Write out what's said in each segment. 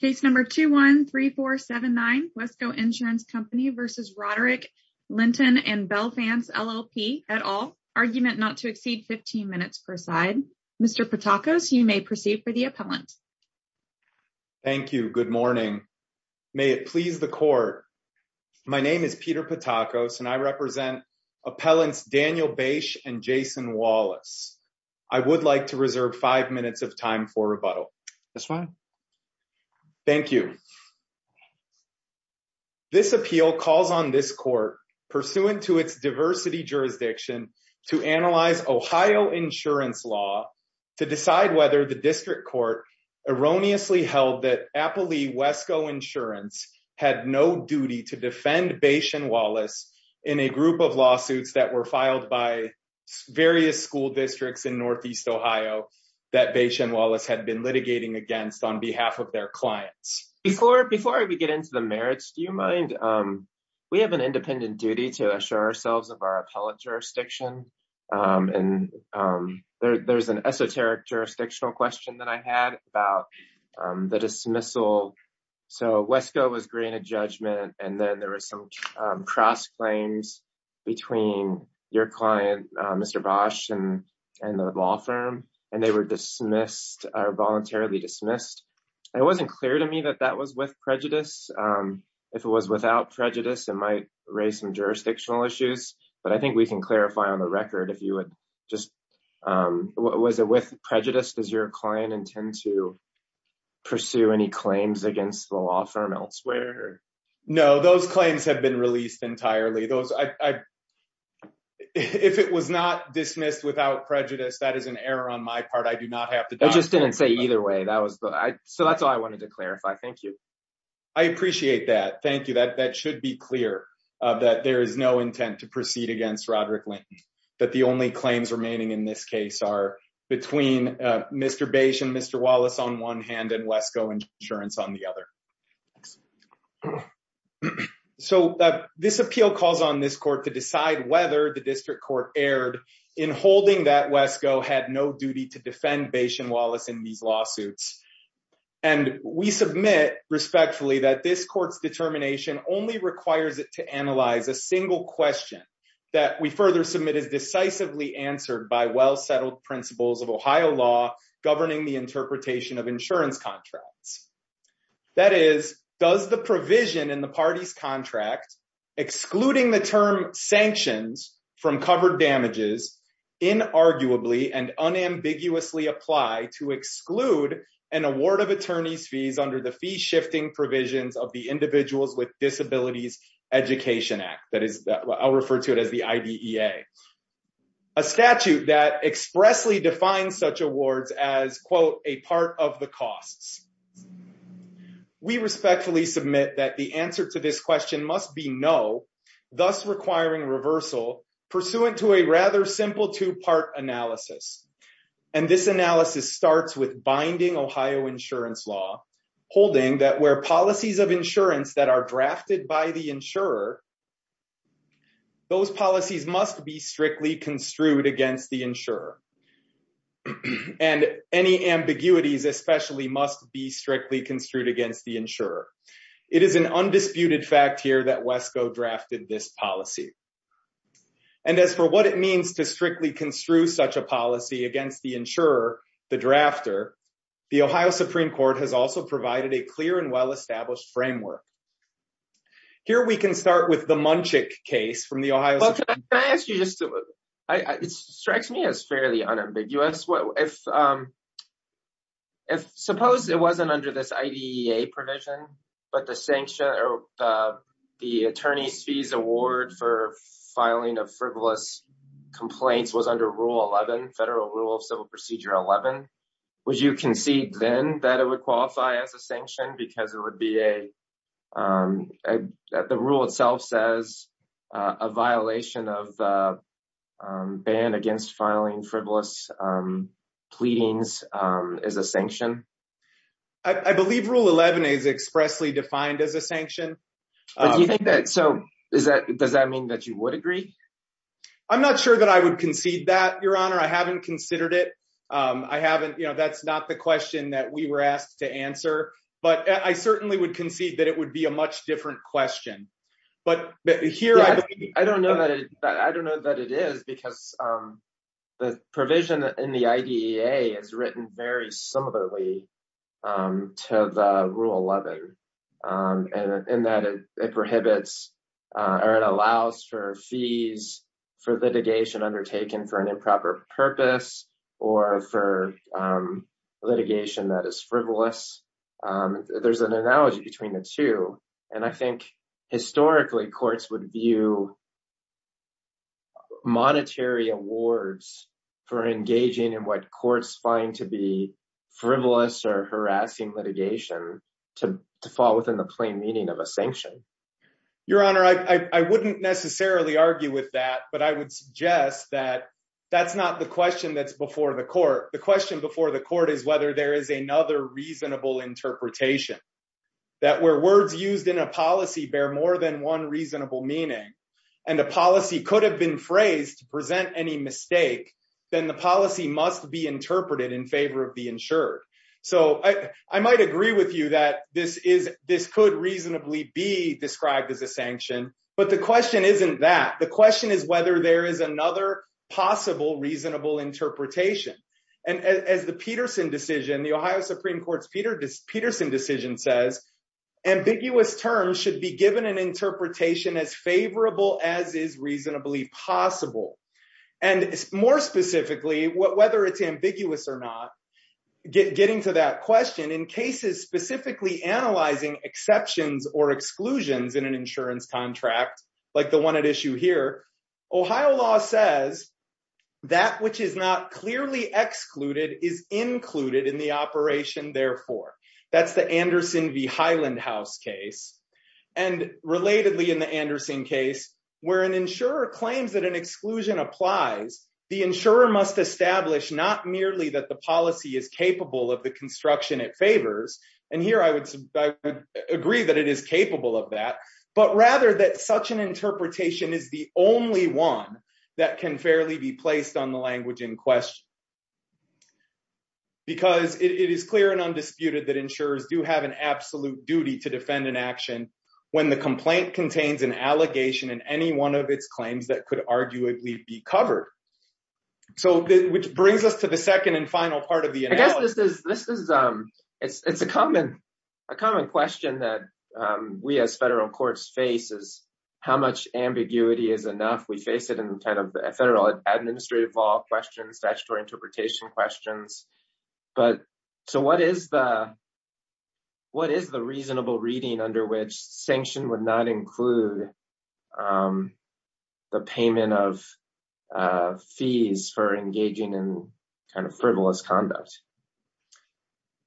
Case number 213479 Wesco Insurance Company v. Roderick Linton and Belfance LLP, et al. Argument not to exceed 15 minutes per side. Mr. Patakos, you may proceed for the appellant. Thank you. Good morning. May it please the court. My name is Peter Patakos and I represent appellants Daniel Bache and Jason Wallace. I would like to reserve five minutes of time for rebuttal. That's fine. Thank you. This appeal calls on this court pursuant to its diversity jurisdiction to analyze Ohio insurance law to decide whether the district court erroneously held that Appley Wesco Insurance had no duty to defend Bache and Wallace in a group of lawsuits that were filed by various school districts in Northeast Ohio that Bache and Wallace had been litigating against on behalf of their clients. Before we get into the merits, do you mind? We have an independent duty to assure ourselves of our appellate jurisdiction and there's an esoteric jurisdictional question that I had about the dismissal. So Wesco was granted judgment and then there was some cross claims between your client, Mr. Bache and the law firm and they were dismissed or voluntarily dismissed. It wasn't clear to me that that was with prejudice. If it was without prejudice, it might raise some jurisdictional issues, but I think we can clarify on the record if you would just, was it with prejudice? Does your client intend to pursue any claims against the law firm elsewhere? No, those claims have been released entirely. If it was not dismissed without prejudice, that is an error on my part. I do not have to- I just didn't say either way. So that's all I wanted to clarify. Thank you. I appreciate that. Thank you. That should be clear that there is no intent to proceed against Roderick Lane, that the only claims remaining in this case are between Mr. Bache and Mr. Wallace on one hand and Wesco Insurance on the other. So this appeal calls on this court to decide whether the district court erred in holding that Wesco had no duty to defend Bache and Wallace in these lawsuits. And we submit respectfully that this court's determination only requires it to analyze a single question that we further submit is decisively answered by well-settled principles of Ohio law governing the interpretation of insurance contracts. That is, does the provision in the party's contract excluding the term sanctions from covered damages inarguably and unambiguously apply to exclude an award of attorney's fees under the fee-shifting provisions of the Individuals with Disabilities Education Act? That is, I'll refer to it as the IDEA. A statute that expressly defines such awards as, quote, a part of the costs. We respectfully submit that the answer to this question must be no, thus requiring reversal pursuant to a rather simple two-part analysis. And this analysis starts with binding Ohio insurance law holding that where policies of insurance that are drafted by the insurer, those policies must be strictly construed against the insurer. And any ambiguities especially must be strictly construed against the insurer. It is an undisputed fact here that Wesco drafted this policy. And as for what it means to strictly construe such a policy against the insurer, the drafter, the Ohio Supreme Court has also provided a clear and well-established framework. Here we can start with the Munchik case from the Ohio... Well, can I ask you just to, it strikes me as fairly unambiguous. If suppose it wasn't under this IDEA provision, but the sanction or the attorney's fees award for filing of frivolous complaints was under Rule 11, Federal Rule of Civil Procedure 11, would you concede then that it would qualify as a sanction because it would be a the rule itself says a violation of ban against filing frivolous pleadings as a sanction? I believe Rule 11 is expressly defined as a sanction. But do you think that, so is that, does that mean that you would agree? I'm not sure that I would concede that, Your Honor. I haven't considered it. I haven't, you know, that's not the question that we were asked to answer. But I certainly would concede that it would be a much different question. But here I believe... I don't know that it, I don't know that it is because the provision in the IDEA is written very similarly to the Rule 11. And in that it prohibits or it allows for fees for litigation undertaken for an improper purpose or for litigation that is frivolous. There's an and I think historically courts would view monetary awards for engaging in what courts find to be frivolous or harassing litigation to fall within the plain meaning of a sanction. Your Honor, I wouldn't necessarily argue with that, but I would suggest that that's not the question that's before the court. The question before the court is whether there is another reasonable interpretation. That where words used in a policy bear more than one reasonable meaning and a policy could have been phrased to present any mistake, then the policy must be interpreted in favor of the insured. So I might agree with you that this could reasonably be described as a sanction, but the question isn't that. The question is whether there is another possible reasonable interpretation. And as the Peterson decision, the Ohio Supreme Court's Peterson decision says, ambiguous terms should be given an interpretation as favorable as is reasonably possible. And more specifically, whether it's ambiguous or not, getting to that question in cases specifically analyzing exceptions or exclusions in an insurance contract like the one at issue here, Ohio law says that which is not clearly excluded is included in the operation therefore. That's the Anderson v. Highland House case. And relatedly in the Anderson case, where an insurer claims that an exclusion applies, the insurer must establish not merely that the policy is capable of the construction it favors. And here I would agree that it is is the only one that can fairly be placed on the language in question. Because it is clear and undisputed that insurers do have an absolute duty to defend an action when the complaint contains an allegation in any one of its claims that could arguably be covered. So which brings us to the second and final part of the analysis. This is a common question that we as federal courts face is how much ambiguity is enough? We face it in kind of federal administrative law questions, statutory interpretation questions. What is the reasonable reading under which sanction would not include the payment of fees for engaging in kind of frivolous conduct?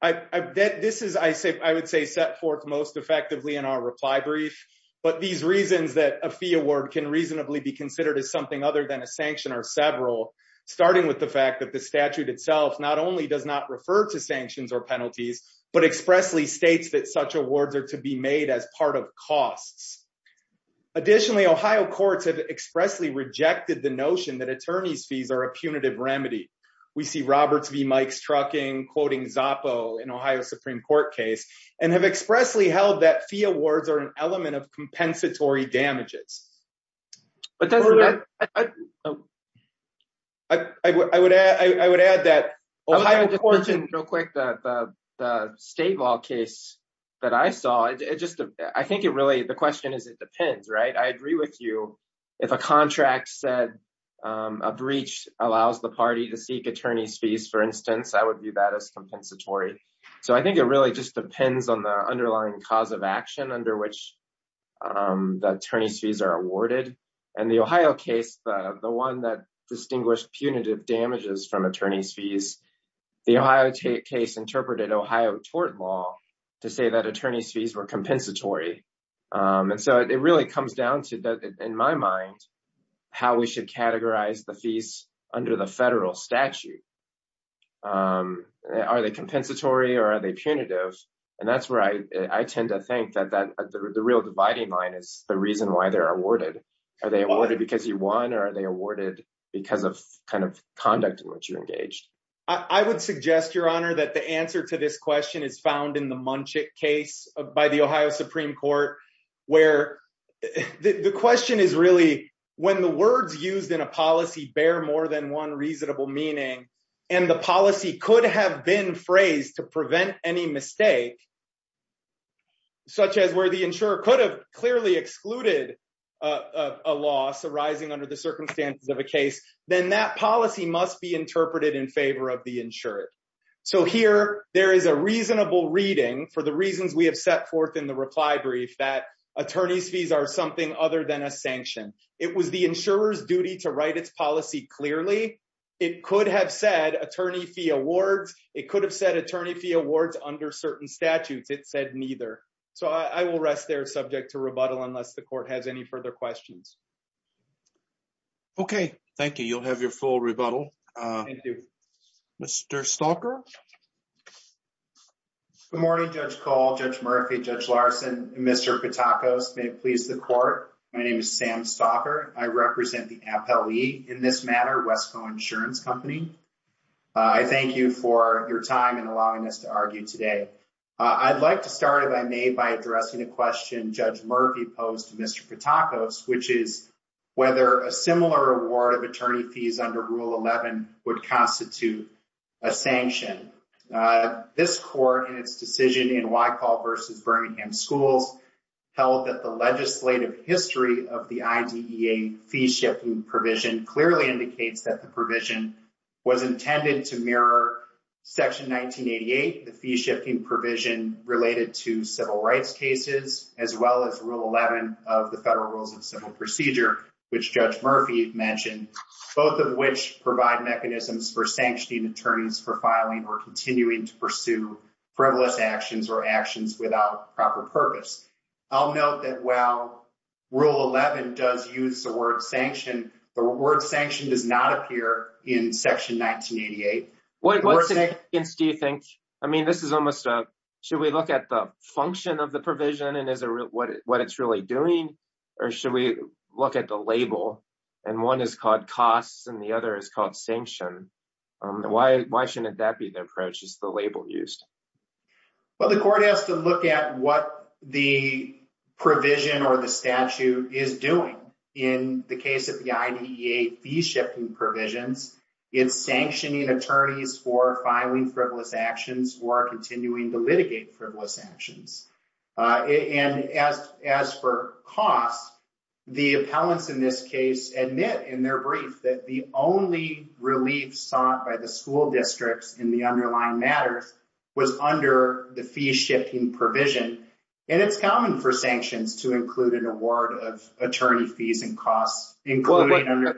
I would say set forth most effectively in our reply brief. But these reasons that a fee award can reasonably be considered as something other than a sanction are several, starting with the fact that the statute itself not only does not refer to sanctions or penalties, but expressly that such awards are to be made as part of costs. Additionally, Ohio courts have expressly rejected the notion that attorney's fees are a punitive remedy. We see Roberts v. Mike's trucking quoting Zoppo in Ohio Supreme Court case and have expressly held that fee awards are an element of compensatory damages. I would add that Ohio courts and real quick, the state law that I saw, the question is it depends, right? I agree with you. If a contract said a breach allows the party to seek attorney's fees, for instance, I would view that as compensatory. I think it really just depends on the underlying cause of action under which the attorney's fees are awarded. In the Ohio case, the one that distinguished punitive damages from attorney's fees, the Ohio case interpreted Ohio tort law to say that attorney's fees were compensatory. It really comes down to, in my mind, how we should categorize the fees under the federal statute. Are they compensatory or are they punitive? That's where I tend to think that the real dividing line is the reason why they're awarded. Are they awarded because you engaged? I would suggest, your honor, that the answer to this question is found in the Munchik case by the Ohio Supreme Court where the question is really when the words used in a policy bear more than one reasonable meaning and the policy could have been phrased to prevent any mistake, such as where the insurer could have clearly excluded a loss arising under the circumstances of a case, then that policy must be interpreted in favor of the insured. Here, there is a reasonable reading for the reasons we have set forth in the reply brief that attorney's fees are something other than a sanction. It was the insurer's duty to write its policy clearly. It could have said attorney fee awards. It could have said attorney fee awards under certain statutes. It said neither. I will rest there subject to rebuttal unless the court has any further questions. Okay. Thank you. You'll have your full rebuttal. Mr. Stalker. Good morning, Judge Cole, Judge Murphy, Judge Larson, and Mr. Patakos. May it please the court, my name is Sam Stalker. I represent the Appellee in this matter, Westco Insurance Company. I thank you for your time and allowing us to argue today. I'd like to start, if I may, by addressing a question Judge Murphy posed to Mr. Patakos, which is whether a similar award of attorney fees under Rule 11 would constitute a sanction. This court, in its decision in Whitehall v. Birmingham Schools, held that the legislative history of the IDEA fee-shifting provision clearly indicates that the provision was intended to mirror Section 1988, the fee-shifting provision related to civil rights cases, as well as Rule 11 of the Federal Rules of Civil Procedure, which Judge Murphy mentioned, both of which provide mechanisms for sanctioning attorneys for filing or continuing to pursue frivolous actions or actions without proper purpose. I'll note that while Rule 11 does use the word sanction, the word sanction does not in Section 1988. Should we look at the function of the provision and what it's really doing, or should we look at the label? One is called costs and the other is called sanction. Why shouldn't that be the approach, just the label used? The court has to look at what the provision or the statute is doing in the case of the IDEA fee-shifting provisions. It's sanctioning attorneys for filing frivolous actions or continuing to litigate frivolous actions. As for costs, the appellants in this case admit in their brief that the only relief sought by the school districts in the underlying matters was under the fee-shifting provision. It's common for sanctions to include an award of $100,000.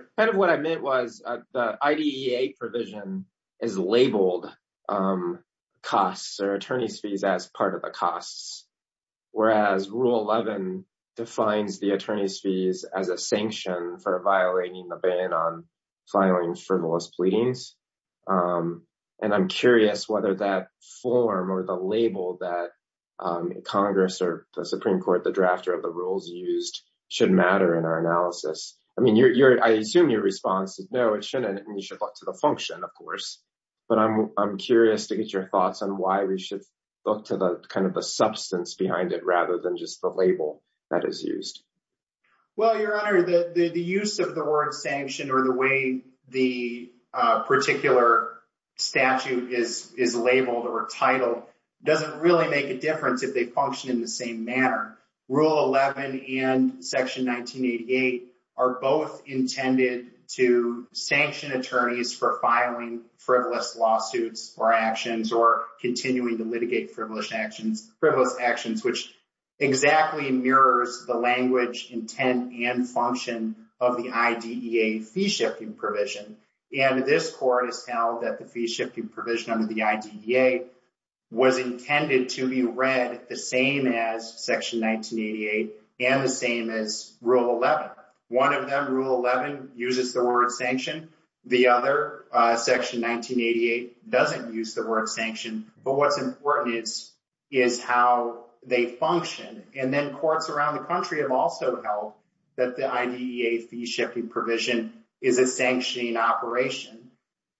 The IDEA provision is labeled costs or attorney's fees as part of the costs, whereas Rule 11 defines the attorney's fees as a sanction for violating the ban on filing frivolous pleadings. I'm curious whether that form or the label that Congress or the Supreme Court, the drafter of the rules used, should matter in our analysis. I assume your response is no, it shouldn't, and you should look to the function, of course. But I'm curious to get your thoughts on why we should look to the substance behind it rather than just the label that is used. Well, Your Honor, the use of the word sanction or the way the particular statute is labeled or titled doesn't really make a difference if they function in the same manner. Rule 11 and Section 1988 are both intended to sanction attorneys for filing frivolous lawsuits or actions or continuing to litigate frivolous actions, which exactly mirrors the language, intent, and function of the IDEA fee-shifting provision. And this Court has held that the and the same as Rule 11. One of them, Rule 11, uses the word sanction. The other, Section 1988, doesn't use the word sanction. But what's important is how they function. And then courts around the country have also held that the IDEA fee-shifting provision is a sanctioning operation.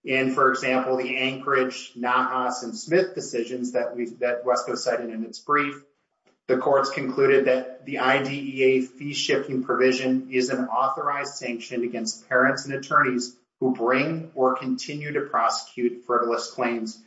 In, for example, the Anchorage, Nahas, and Smith decisions that West Coast cited in its brief, the courts concluded that the IDEA fee-shifting provision is an authorized sanction against parents and attorneys who bring or continue to prosecute frivolous claims,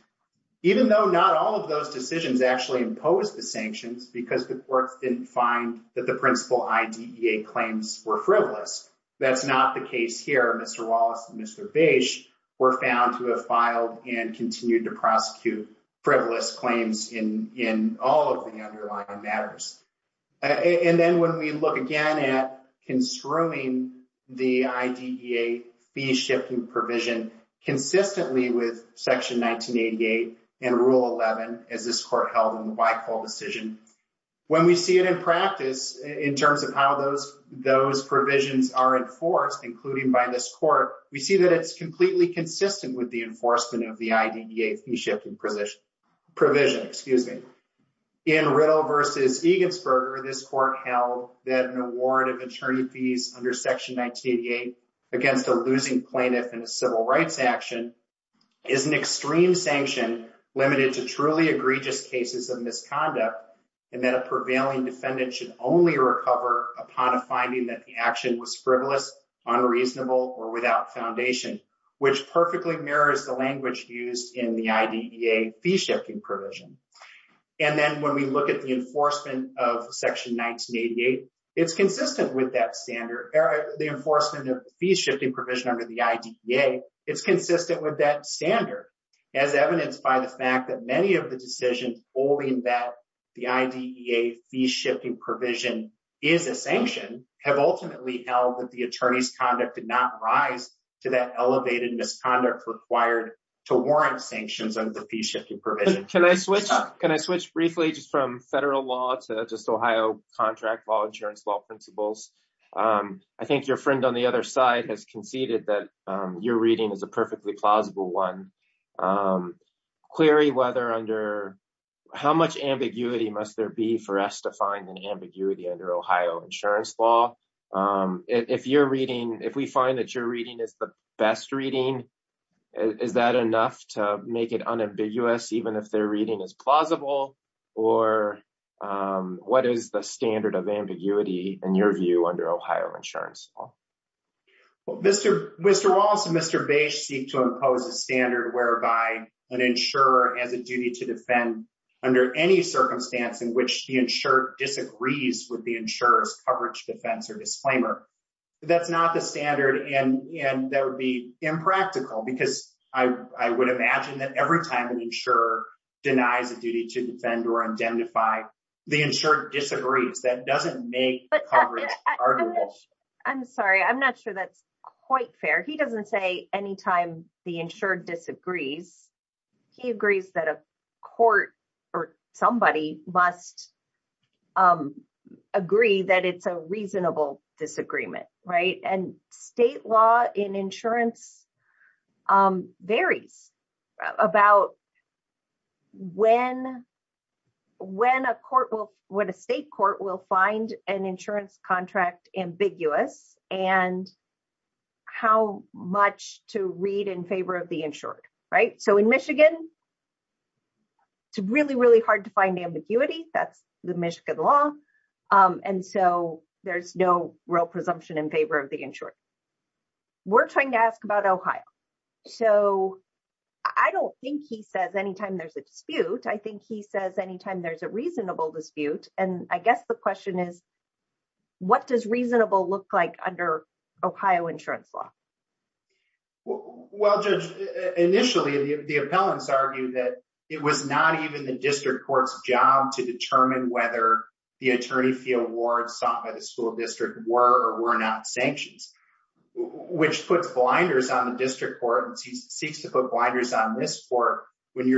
even though not all of those decisions actually impose the sanctions because the courts didn't find that the principal IDEA claims were frivolous. That's not the case here. Mr. Wallace and Mr. were found to have filed and continued to prosecute frivolous claims in all of the underlying matters. And then when we look again at construing the IDEA fee-shifting provision, consistently with Section 1988 and Rule 11, as this Court held in the Whitehall decision, when we see it in practice, in terms of how those provisions are enforced, including by this Court, we see that it's completely consistent with the enforcement of the IDEA fee-shifting provision. In Riddle v. Egensberger, this Court held that an award of attorney fees under Section 1988 against a losing plaintiff in a civil rights action is an extreme sanction limited to truly egregious cases of misconduct, and that a prevailing defendant should only which perfectly mirrors the language used in the IDEA fee-shifting provision. And then when we look at the enforcement of Section 1988, it's consistent with that standard, the enforcement of the fee-shifting provision under the IDEA, it's consistent with that standard, as evidenced by the fact that many of the decisions holding that the IDEA fee-shifting provision is a sanction have ultimately held that the attorney's conduct did not rise to that elevated misconduct required to warrant sanctions under the fee-shifting provision. Can I switch briefly just from federal law to just Ohio contract law, insurance law principles? I think your friend on the other side has conceded that your reading is a perfectly plausible one. Clary, how much ambiguity must there be for us to find an ambiguity under Ohio insurance law? If we find that your reading is the best reading, is that enough to make it unambiguous even if their reading is plausible? Or what is the standard of ambiguity in your view under Ohio insurance law? Well, Mr. Wallace and Mr. Bache seek to impose a standard whereby an insurer has a duty to defend under any circumstance in which the insurer disagrees with the insurer's coverage, defense, or disclaimer. That's not the standard and that would be impractical because I would imagine that every time an insurer denies a duty to defend or identify, the insurer disagrees. That doesn't make coverage arguable. I'm sorry, I'm not sure that's quite fair. He doesn't say anytime the insured disagrees. He agrees that a court or somebody must agree that it's a reasonable disagreement. State law in insurance varies about when a state court will find an insurance contract ambiguous and how much to read in favor of the insured. In Michigan, it's really, really hard to find ambiguity. That's the Michigan law. There's no real presumption in favor of the insured. We're trying to ask about Ohio. I don't think he says anytime there's a dispute. I think he says anytime there's a reasonable dispute. I guess the question is, what does reasonable look like under Ohio insurance law? Well, Judge, initially the appellants argued that it was not even the district court's job to determine whether the attorney fee awards sought by the school district were or were not sanctions, which puts blinders on the district court and seeks to put blinders on this court when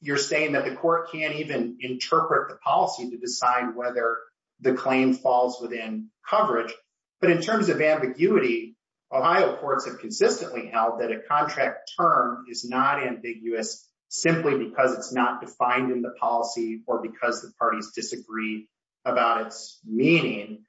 you're saying that the court can't even interpret the policy to decide whether the claim falls within coverage. But in terms of ambiguity, Ohio courts have consistently held that a contract term is not ambiguous simply because it's not defined in the policy or because the parties disagree about its meaning.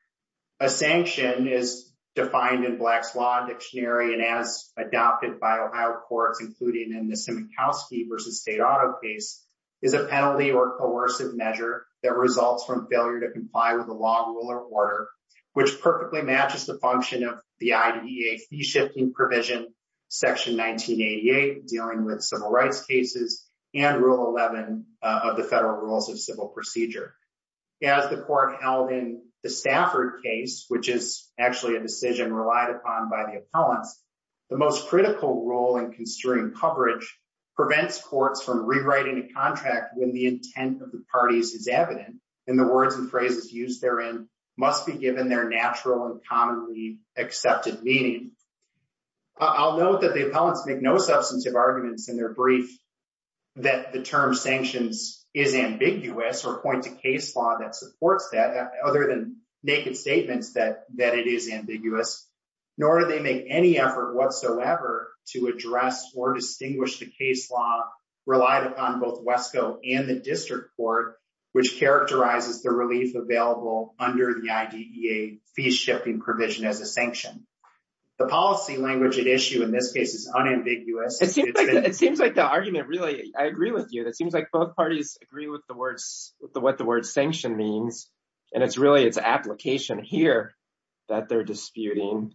A sanction is defined in Black's Law Dictionary and as adopted by Ohio courts, including in the Simikowski v. State Auto case, is a penalty or coercive measure that results from failure to comply with the law, rule, or order, which perfectly matches the function of the IDEA fee-shifting provision, Section 1988 dealing with civil rights cases, and Rule 11 of the Federal Rules of Civil Procedure. As the court held in the Stafford case, which is actually a decision relied upon by the appellants, the most critical role in construing coverage prevents courts from rewriting a contract when the intent of the parties is evident and the words and phrases used therein must be given their natural and commonly accepted meaning. I'll note that the appellants make no substantive arguments in their brief that the term sanctions is ambiguous or point to case law that supports that other than naked statements that that it is ambiguous, nor do they make any effort whatsoever to address or distinguish the case law relied upon both WESCO and the district court, which characterizes the relief available under the IDEA fee-shifting provision as a sanction. The policy language at issue in this case is unambiguous. It seems like the argument really, I agree with you, it seems like both parties agree with the words, what the word sanction means, and it's really application here that they're disputing.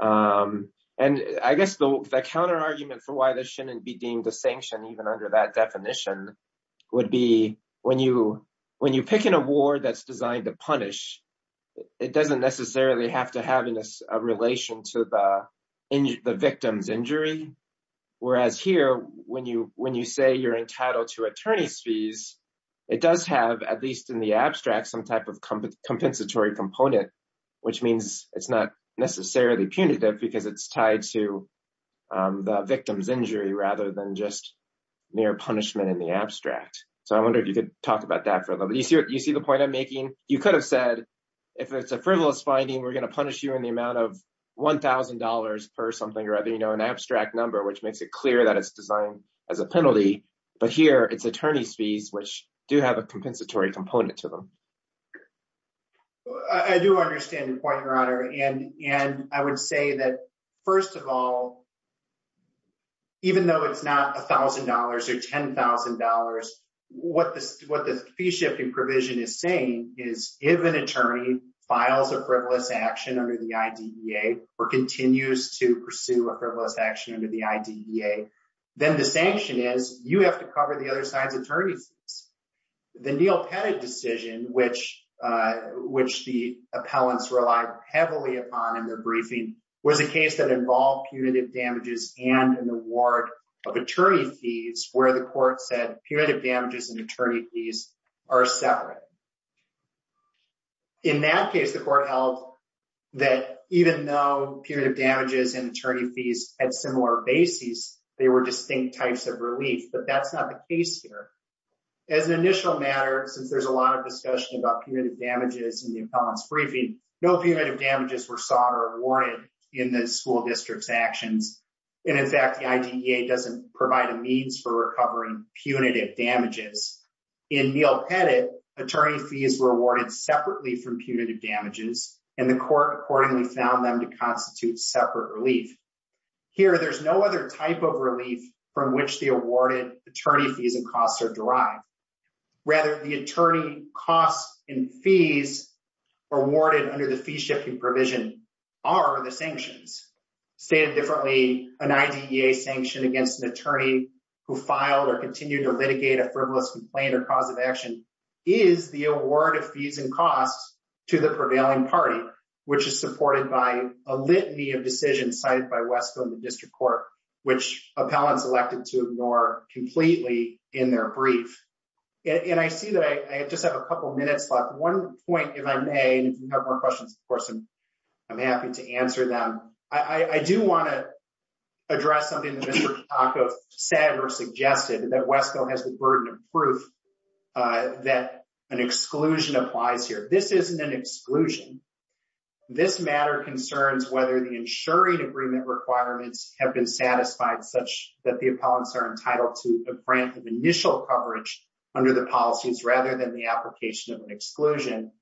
And I guess the counter argument for why this shouldn't be deemed a sanction even under that definition would be when you pick an award that's designed to punish, it doesn't necessarily have to have a relation to the victim's injury. Whereas here, when you say you're entitled to attorney's fees, it does have, at least in the abstract, some type of compensatory component, which means it's not necessarily punitive because it's tied to the victim's injury rather than just mere punishment in the abstract. So I wonder if you could talk about that further. You see the point I'm making? You could have said if it's a frivolous finding, we're going to punish you in the amount of $1,000 per something or other, an abstract number, which makes it clear that it's designed as a penalty. But here it's a compensatory component to them. I do understand the point, Your Honor. And I would say that, first of all, even though it's not $1,000 or $10,000, what the fee-shifting provision is saying is if an attorney files a frivolous action under the IDEA or continues to pursue a frivolous action under the IDEA, then the sanction is you have to cover the other side's attorney fees. The Neil Pettit decision, which the appellants relied heavily upon in their briefing, was a case that involved punitive damages and an award of attorney fees where the court said punitive damages and attorney fees are separate. In that case, the court held that even though punitive damages and attorney fees had similar bases, they were distinct types of relief. But that's not the case here. As an initial matter, since there's a lot of discussion about punitive damages in the appellant's briefing, no punitive damages were sought or awarded in the school district's actions. And in fact, the IDEA doesn't provide a means for recovering punitive damages. In Neil Pettit, attorney fees were awarded separately from punitive damages, and the court accordingly found them to constitute separate relief. Here, there's no other type of relief from which the awarded attorney fees and costs are derived. Rather, the attorney costs and fees awarded under the fee-shifting provision are the sanctions. Stated differently, an IDEA sanction against an attorney who filed or continued to litigate a which is supported by a litany of decisions cited by Westville in the district court, which appellants elected to ignore completely in their brief. And I see that I just have a couple minutes left. One point, if I may, and if you have more questions, of course, I'm happy to answer them. I do want to address something that Mr. Kitaka said or suggested, that Westville has the burden of proof that an exclusion applies here. This isn't an exclusion. This matter concerns whether the insuring agreement requirements have been satisfied such that the appellants are entitled to a grant of initial coverage under the policies rather than the application of an exclusion.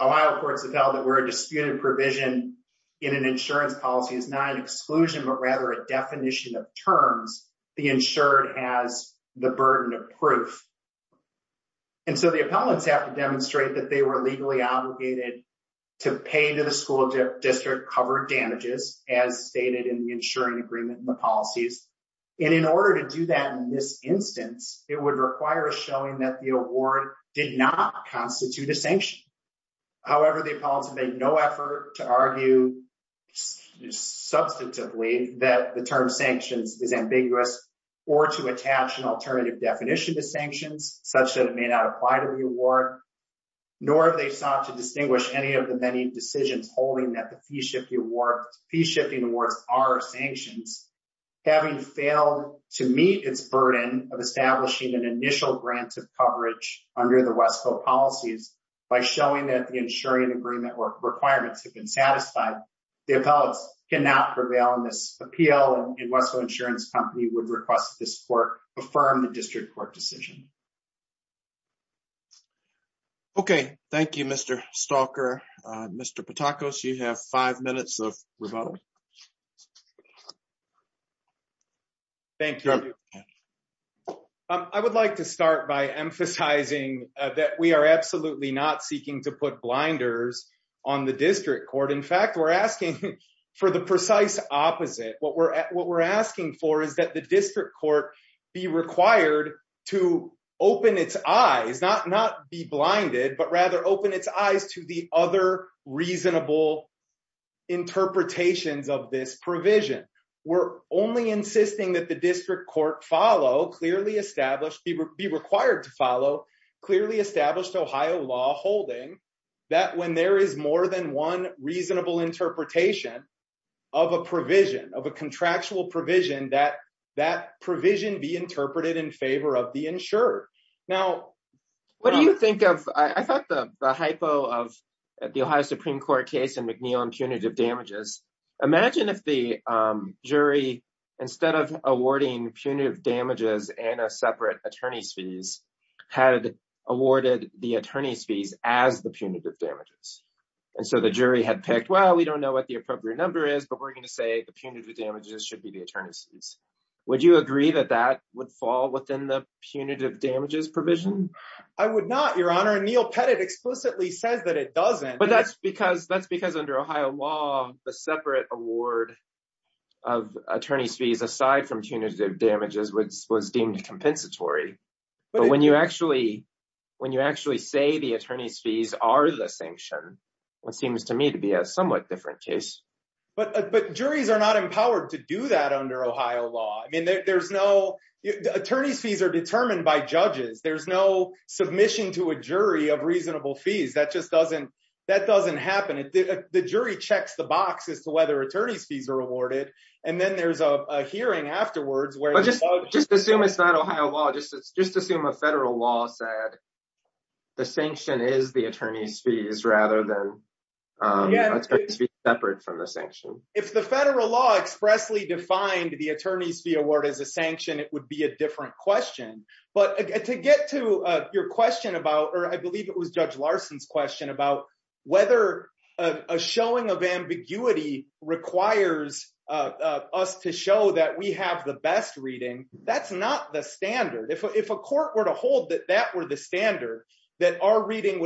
Ohio courts have held that where a disputed provision in an insurance policy is not an exclusion, but rather a definition of terms, the insured has the burden of proof. And so the appellants have to demonstrate that they were legally obligated to pay to the school district covered damages as stated in the insuring agreement and the policies. And in order to do that in this instance, it would require showing that the award did not constitute a sanction. However, the appellants have made no effort to argue substantively that the term sanctions is ambiguous or to attach an alternative definition to sanctions such that it may not apply to the award, nor have they sought to distinguish any of the many decisions holding that the fee-shifting awards are sanctions. Having failed to meet its burden of establishing an initial grant of coverage under the Westville policies by showing that the insuring agreement requirements have been satisfied, the appellants cannot prevail in this appeal. And Westville Insurance Company would request that this court affirm the district court decision. Okay. Thank you, Mr. Stalker. Mr. Patakos, you have five minutes of rebuttal. Thank you. I would like to start by emphasizing that we are absolutely not seeking to put blinders on the district court. In fact, we're asking for the precise opposite. What we're asking for is the district court be required to open its eyes, not be blinded, but rather open its eyes to the other reasonable interpretations of this provision. We're only insisting that the district court follow clearly established, be required to follow clearly established Ohio law holding that when there is more than one reasonable interpretation of a provision of a contractual provision, that that provision be interpreted in favor of the insurer. Now, what do you think of, I thought the hypo of the Ohio Supreme Court case and McNeil and punitive damages. Imagine if the jury, instead of awarding punitive damages and a separate attorney's fees, had awarded the attorney's fees as the punitive damages. And so the jury had picked, well, we don't know what the appropriate number is, but we're going to say the punitive damages should be the attorney's fees. Would you agree that that would fall within the punitive damages provision? I would not, your honor. Neil Pettit explicitly says that it doesn't. But that's because that's because under Ohio law, the separate award of attorney's fees aside from punitive damages was deemed compensatory. But when you actually, when you actually say the attorney's fees are the sanction, what seems to me to be a somewhat different case. But but juries are not empowered to do that under Ohio law. I mean, there's no attorney's fees are determined by judges. There's no submission to a jury of reasonable fees. That just doesn't that doesn't happen. The jury checks the box as to whether attorney's fees are awarded. And then there's a hearing afterwards where just just assume it's not Ohio law. Just just assume a federal law said the sanction is attorney's fees rather than separate from the sanction. If the federal law expressly defined the attorney's fee award as a sanction, it would be a different question. But to get to your question about or I believe it was Judge Larson's question about whether a showing of ambiguity requires us to show that we have the best reading. That's not the standard. If if a court were to that our reading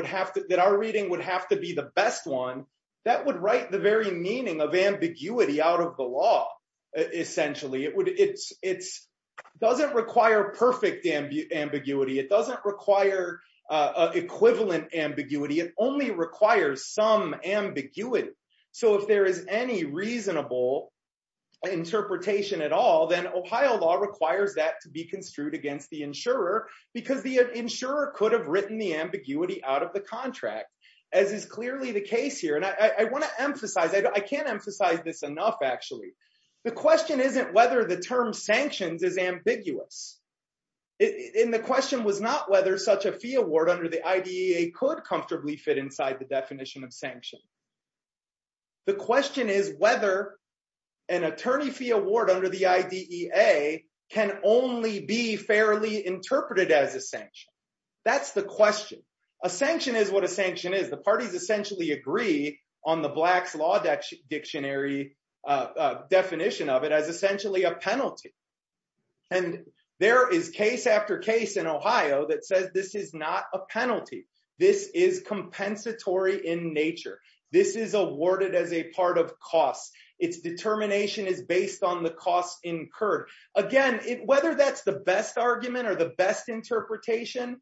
would have to be the best one that would write the very meaning of ambiguity out of the law. Essentially, it would it's it's doesn't require perfect ambiguity. It doesn't require equivalent ambiguity. It only requires some ambiguity. So if there is any reasonable interpretation at all, then Ohio law requires that to be construed against the insurer because the insurer could have written the ambiguity out of the contract, as is clearly the case here. And I want to emphasize that I can't emphasize this enough. Actually, the question isn't whether the term sanctions is ambiguous. In the question was not whether such a fee award under the idea could comfortably fit inside the definition of sanction. The question is whether an attorney fee award under the idea can only be fairly interpreted as a sanction. That's the question. A sanction is what a sanction is. The parties essentially agree on the Blacks Law Dictionary definition of it as essentially a penalty. And there is case after case in Ohio that says this is not a penalty. This is compensatory in nature. This is awarded as a part of cost. Its determination is based on the cost incurred. Again, whether that's the best argument or the best interpretation,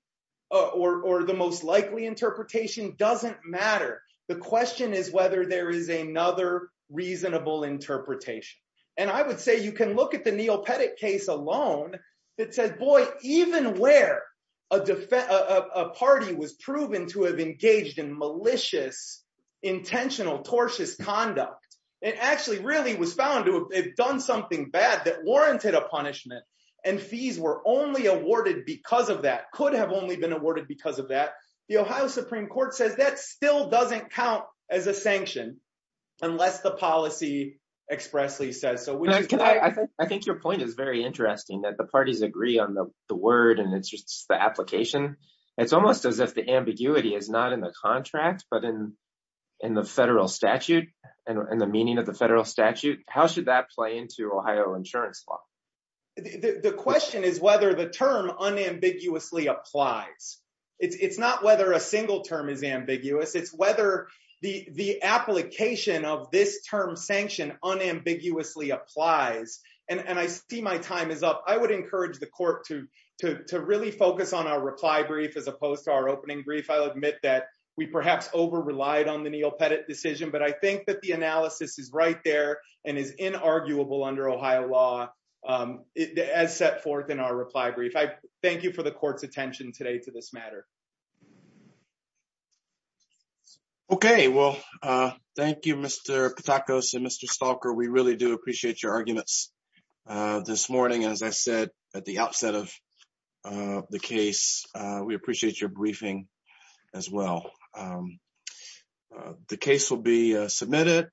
or the most likely interpretation doesn't matter. The question is whether there is another reasonable interpretation. And I would say you can look at the Neil Pettit case alone that says, boy, even where a party was proven to have engaged in malicious, intentional, tortious conduct, it actually really was found to have done something bad that warranted a punishment. And fees were only awarded because of that, could have only been awarded because of that. The Ohio Supreme Court says that still doesn't count as a sanction unless the policy expressly says so. I think your point is very interesting that the parties agree on the word and it's just the application. It's almost as if the ambiguity is not in the contract, but in the federal statute and the meaning of the federal statute. How should that play into Ohio insurance law? The question is whether the term unambiguously applies. It's not whether a single term is ambiguous, it's whether the application of this term sanction unambiguously applies. And I see my time is up. I would encourage the court to really focus on our reply brief as opposed to our opening brief. I'll admit that we perhaps over-relied on the Neil Pettit decision, but I think that the analysis is right there and is inarguable under Ohio law as set forth in our reply brief. I thank you for the court's attention today to this matter. Okay. Well, thank you, Mr. Patakos and Mr. Stalker. We really do appreciate your arguments this morning. As I said, at the outset of the case, we appreciate your briefing as well. The case will be submitted.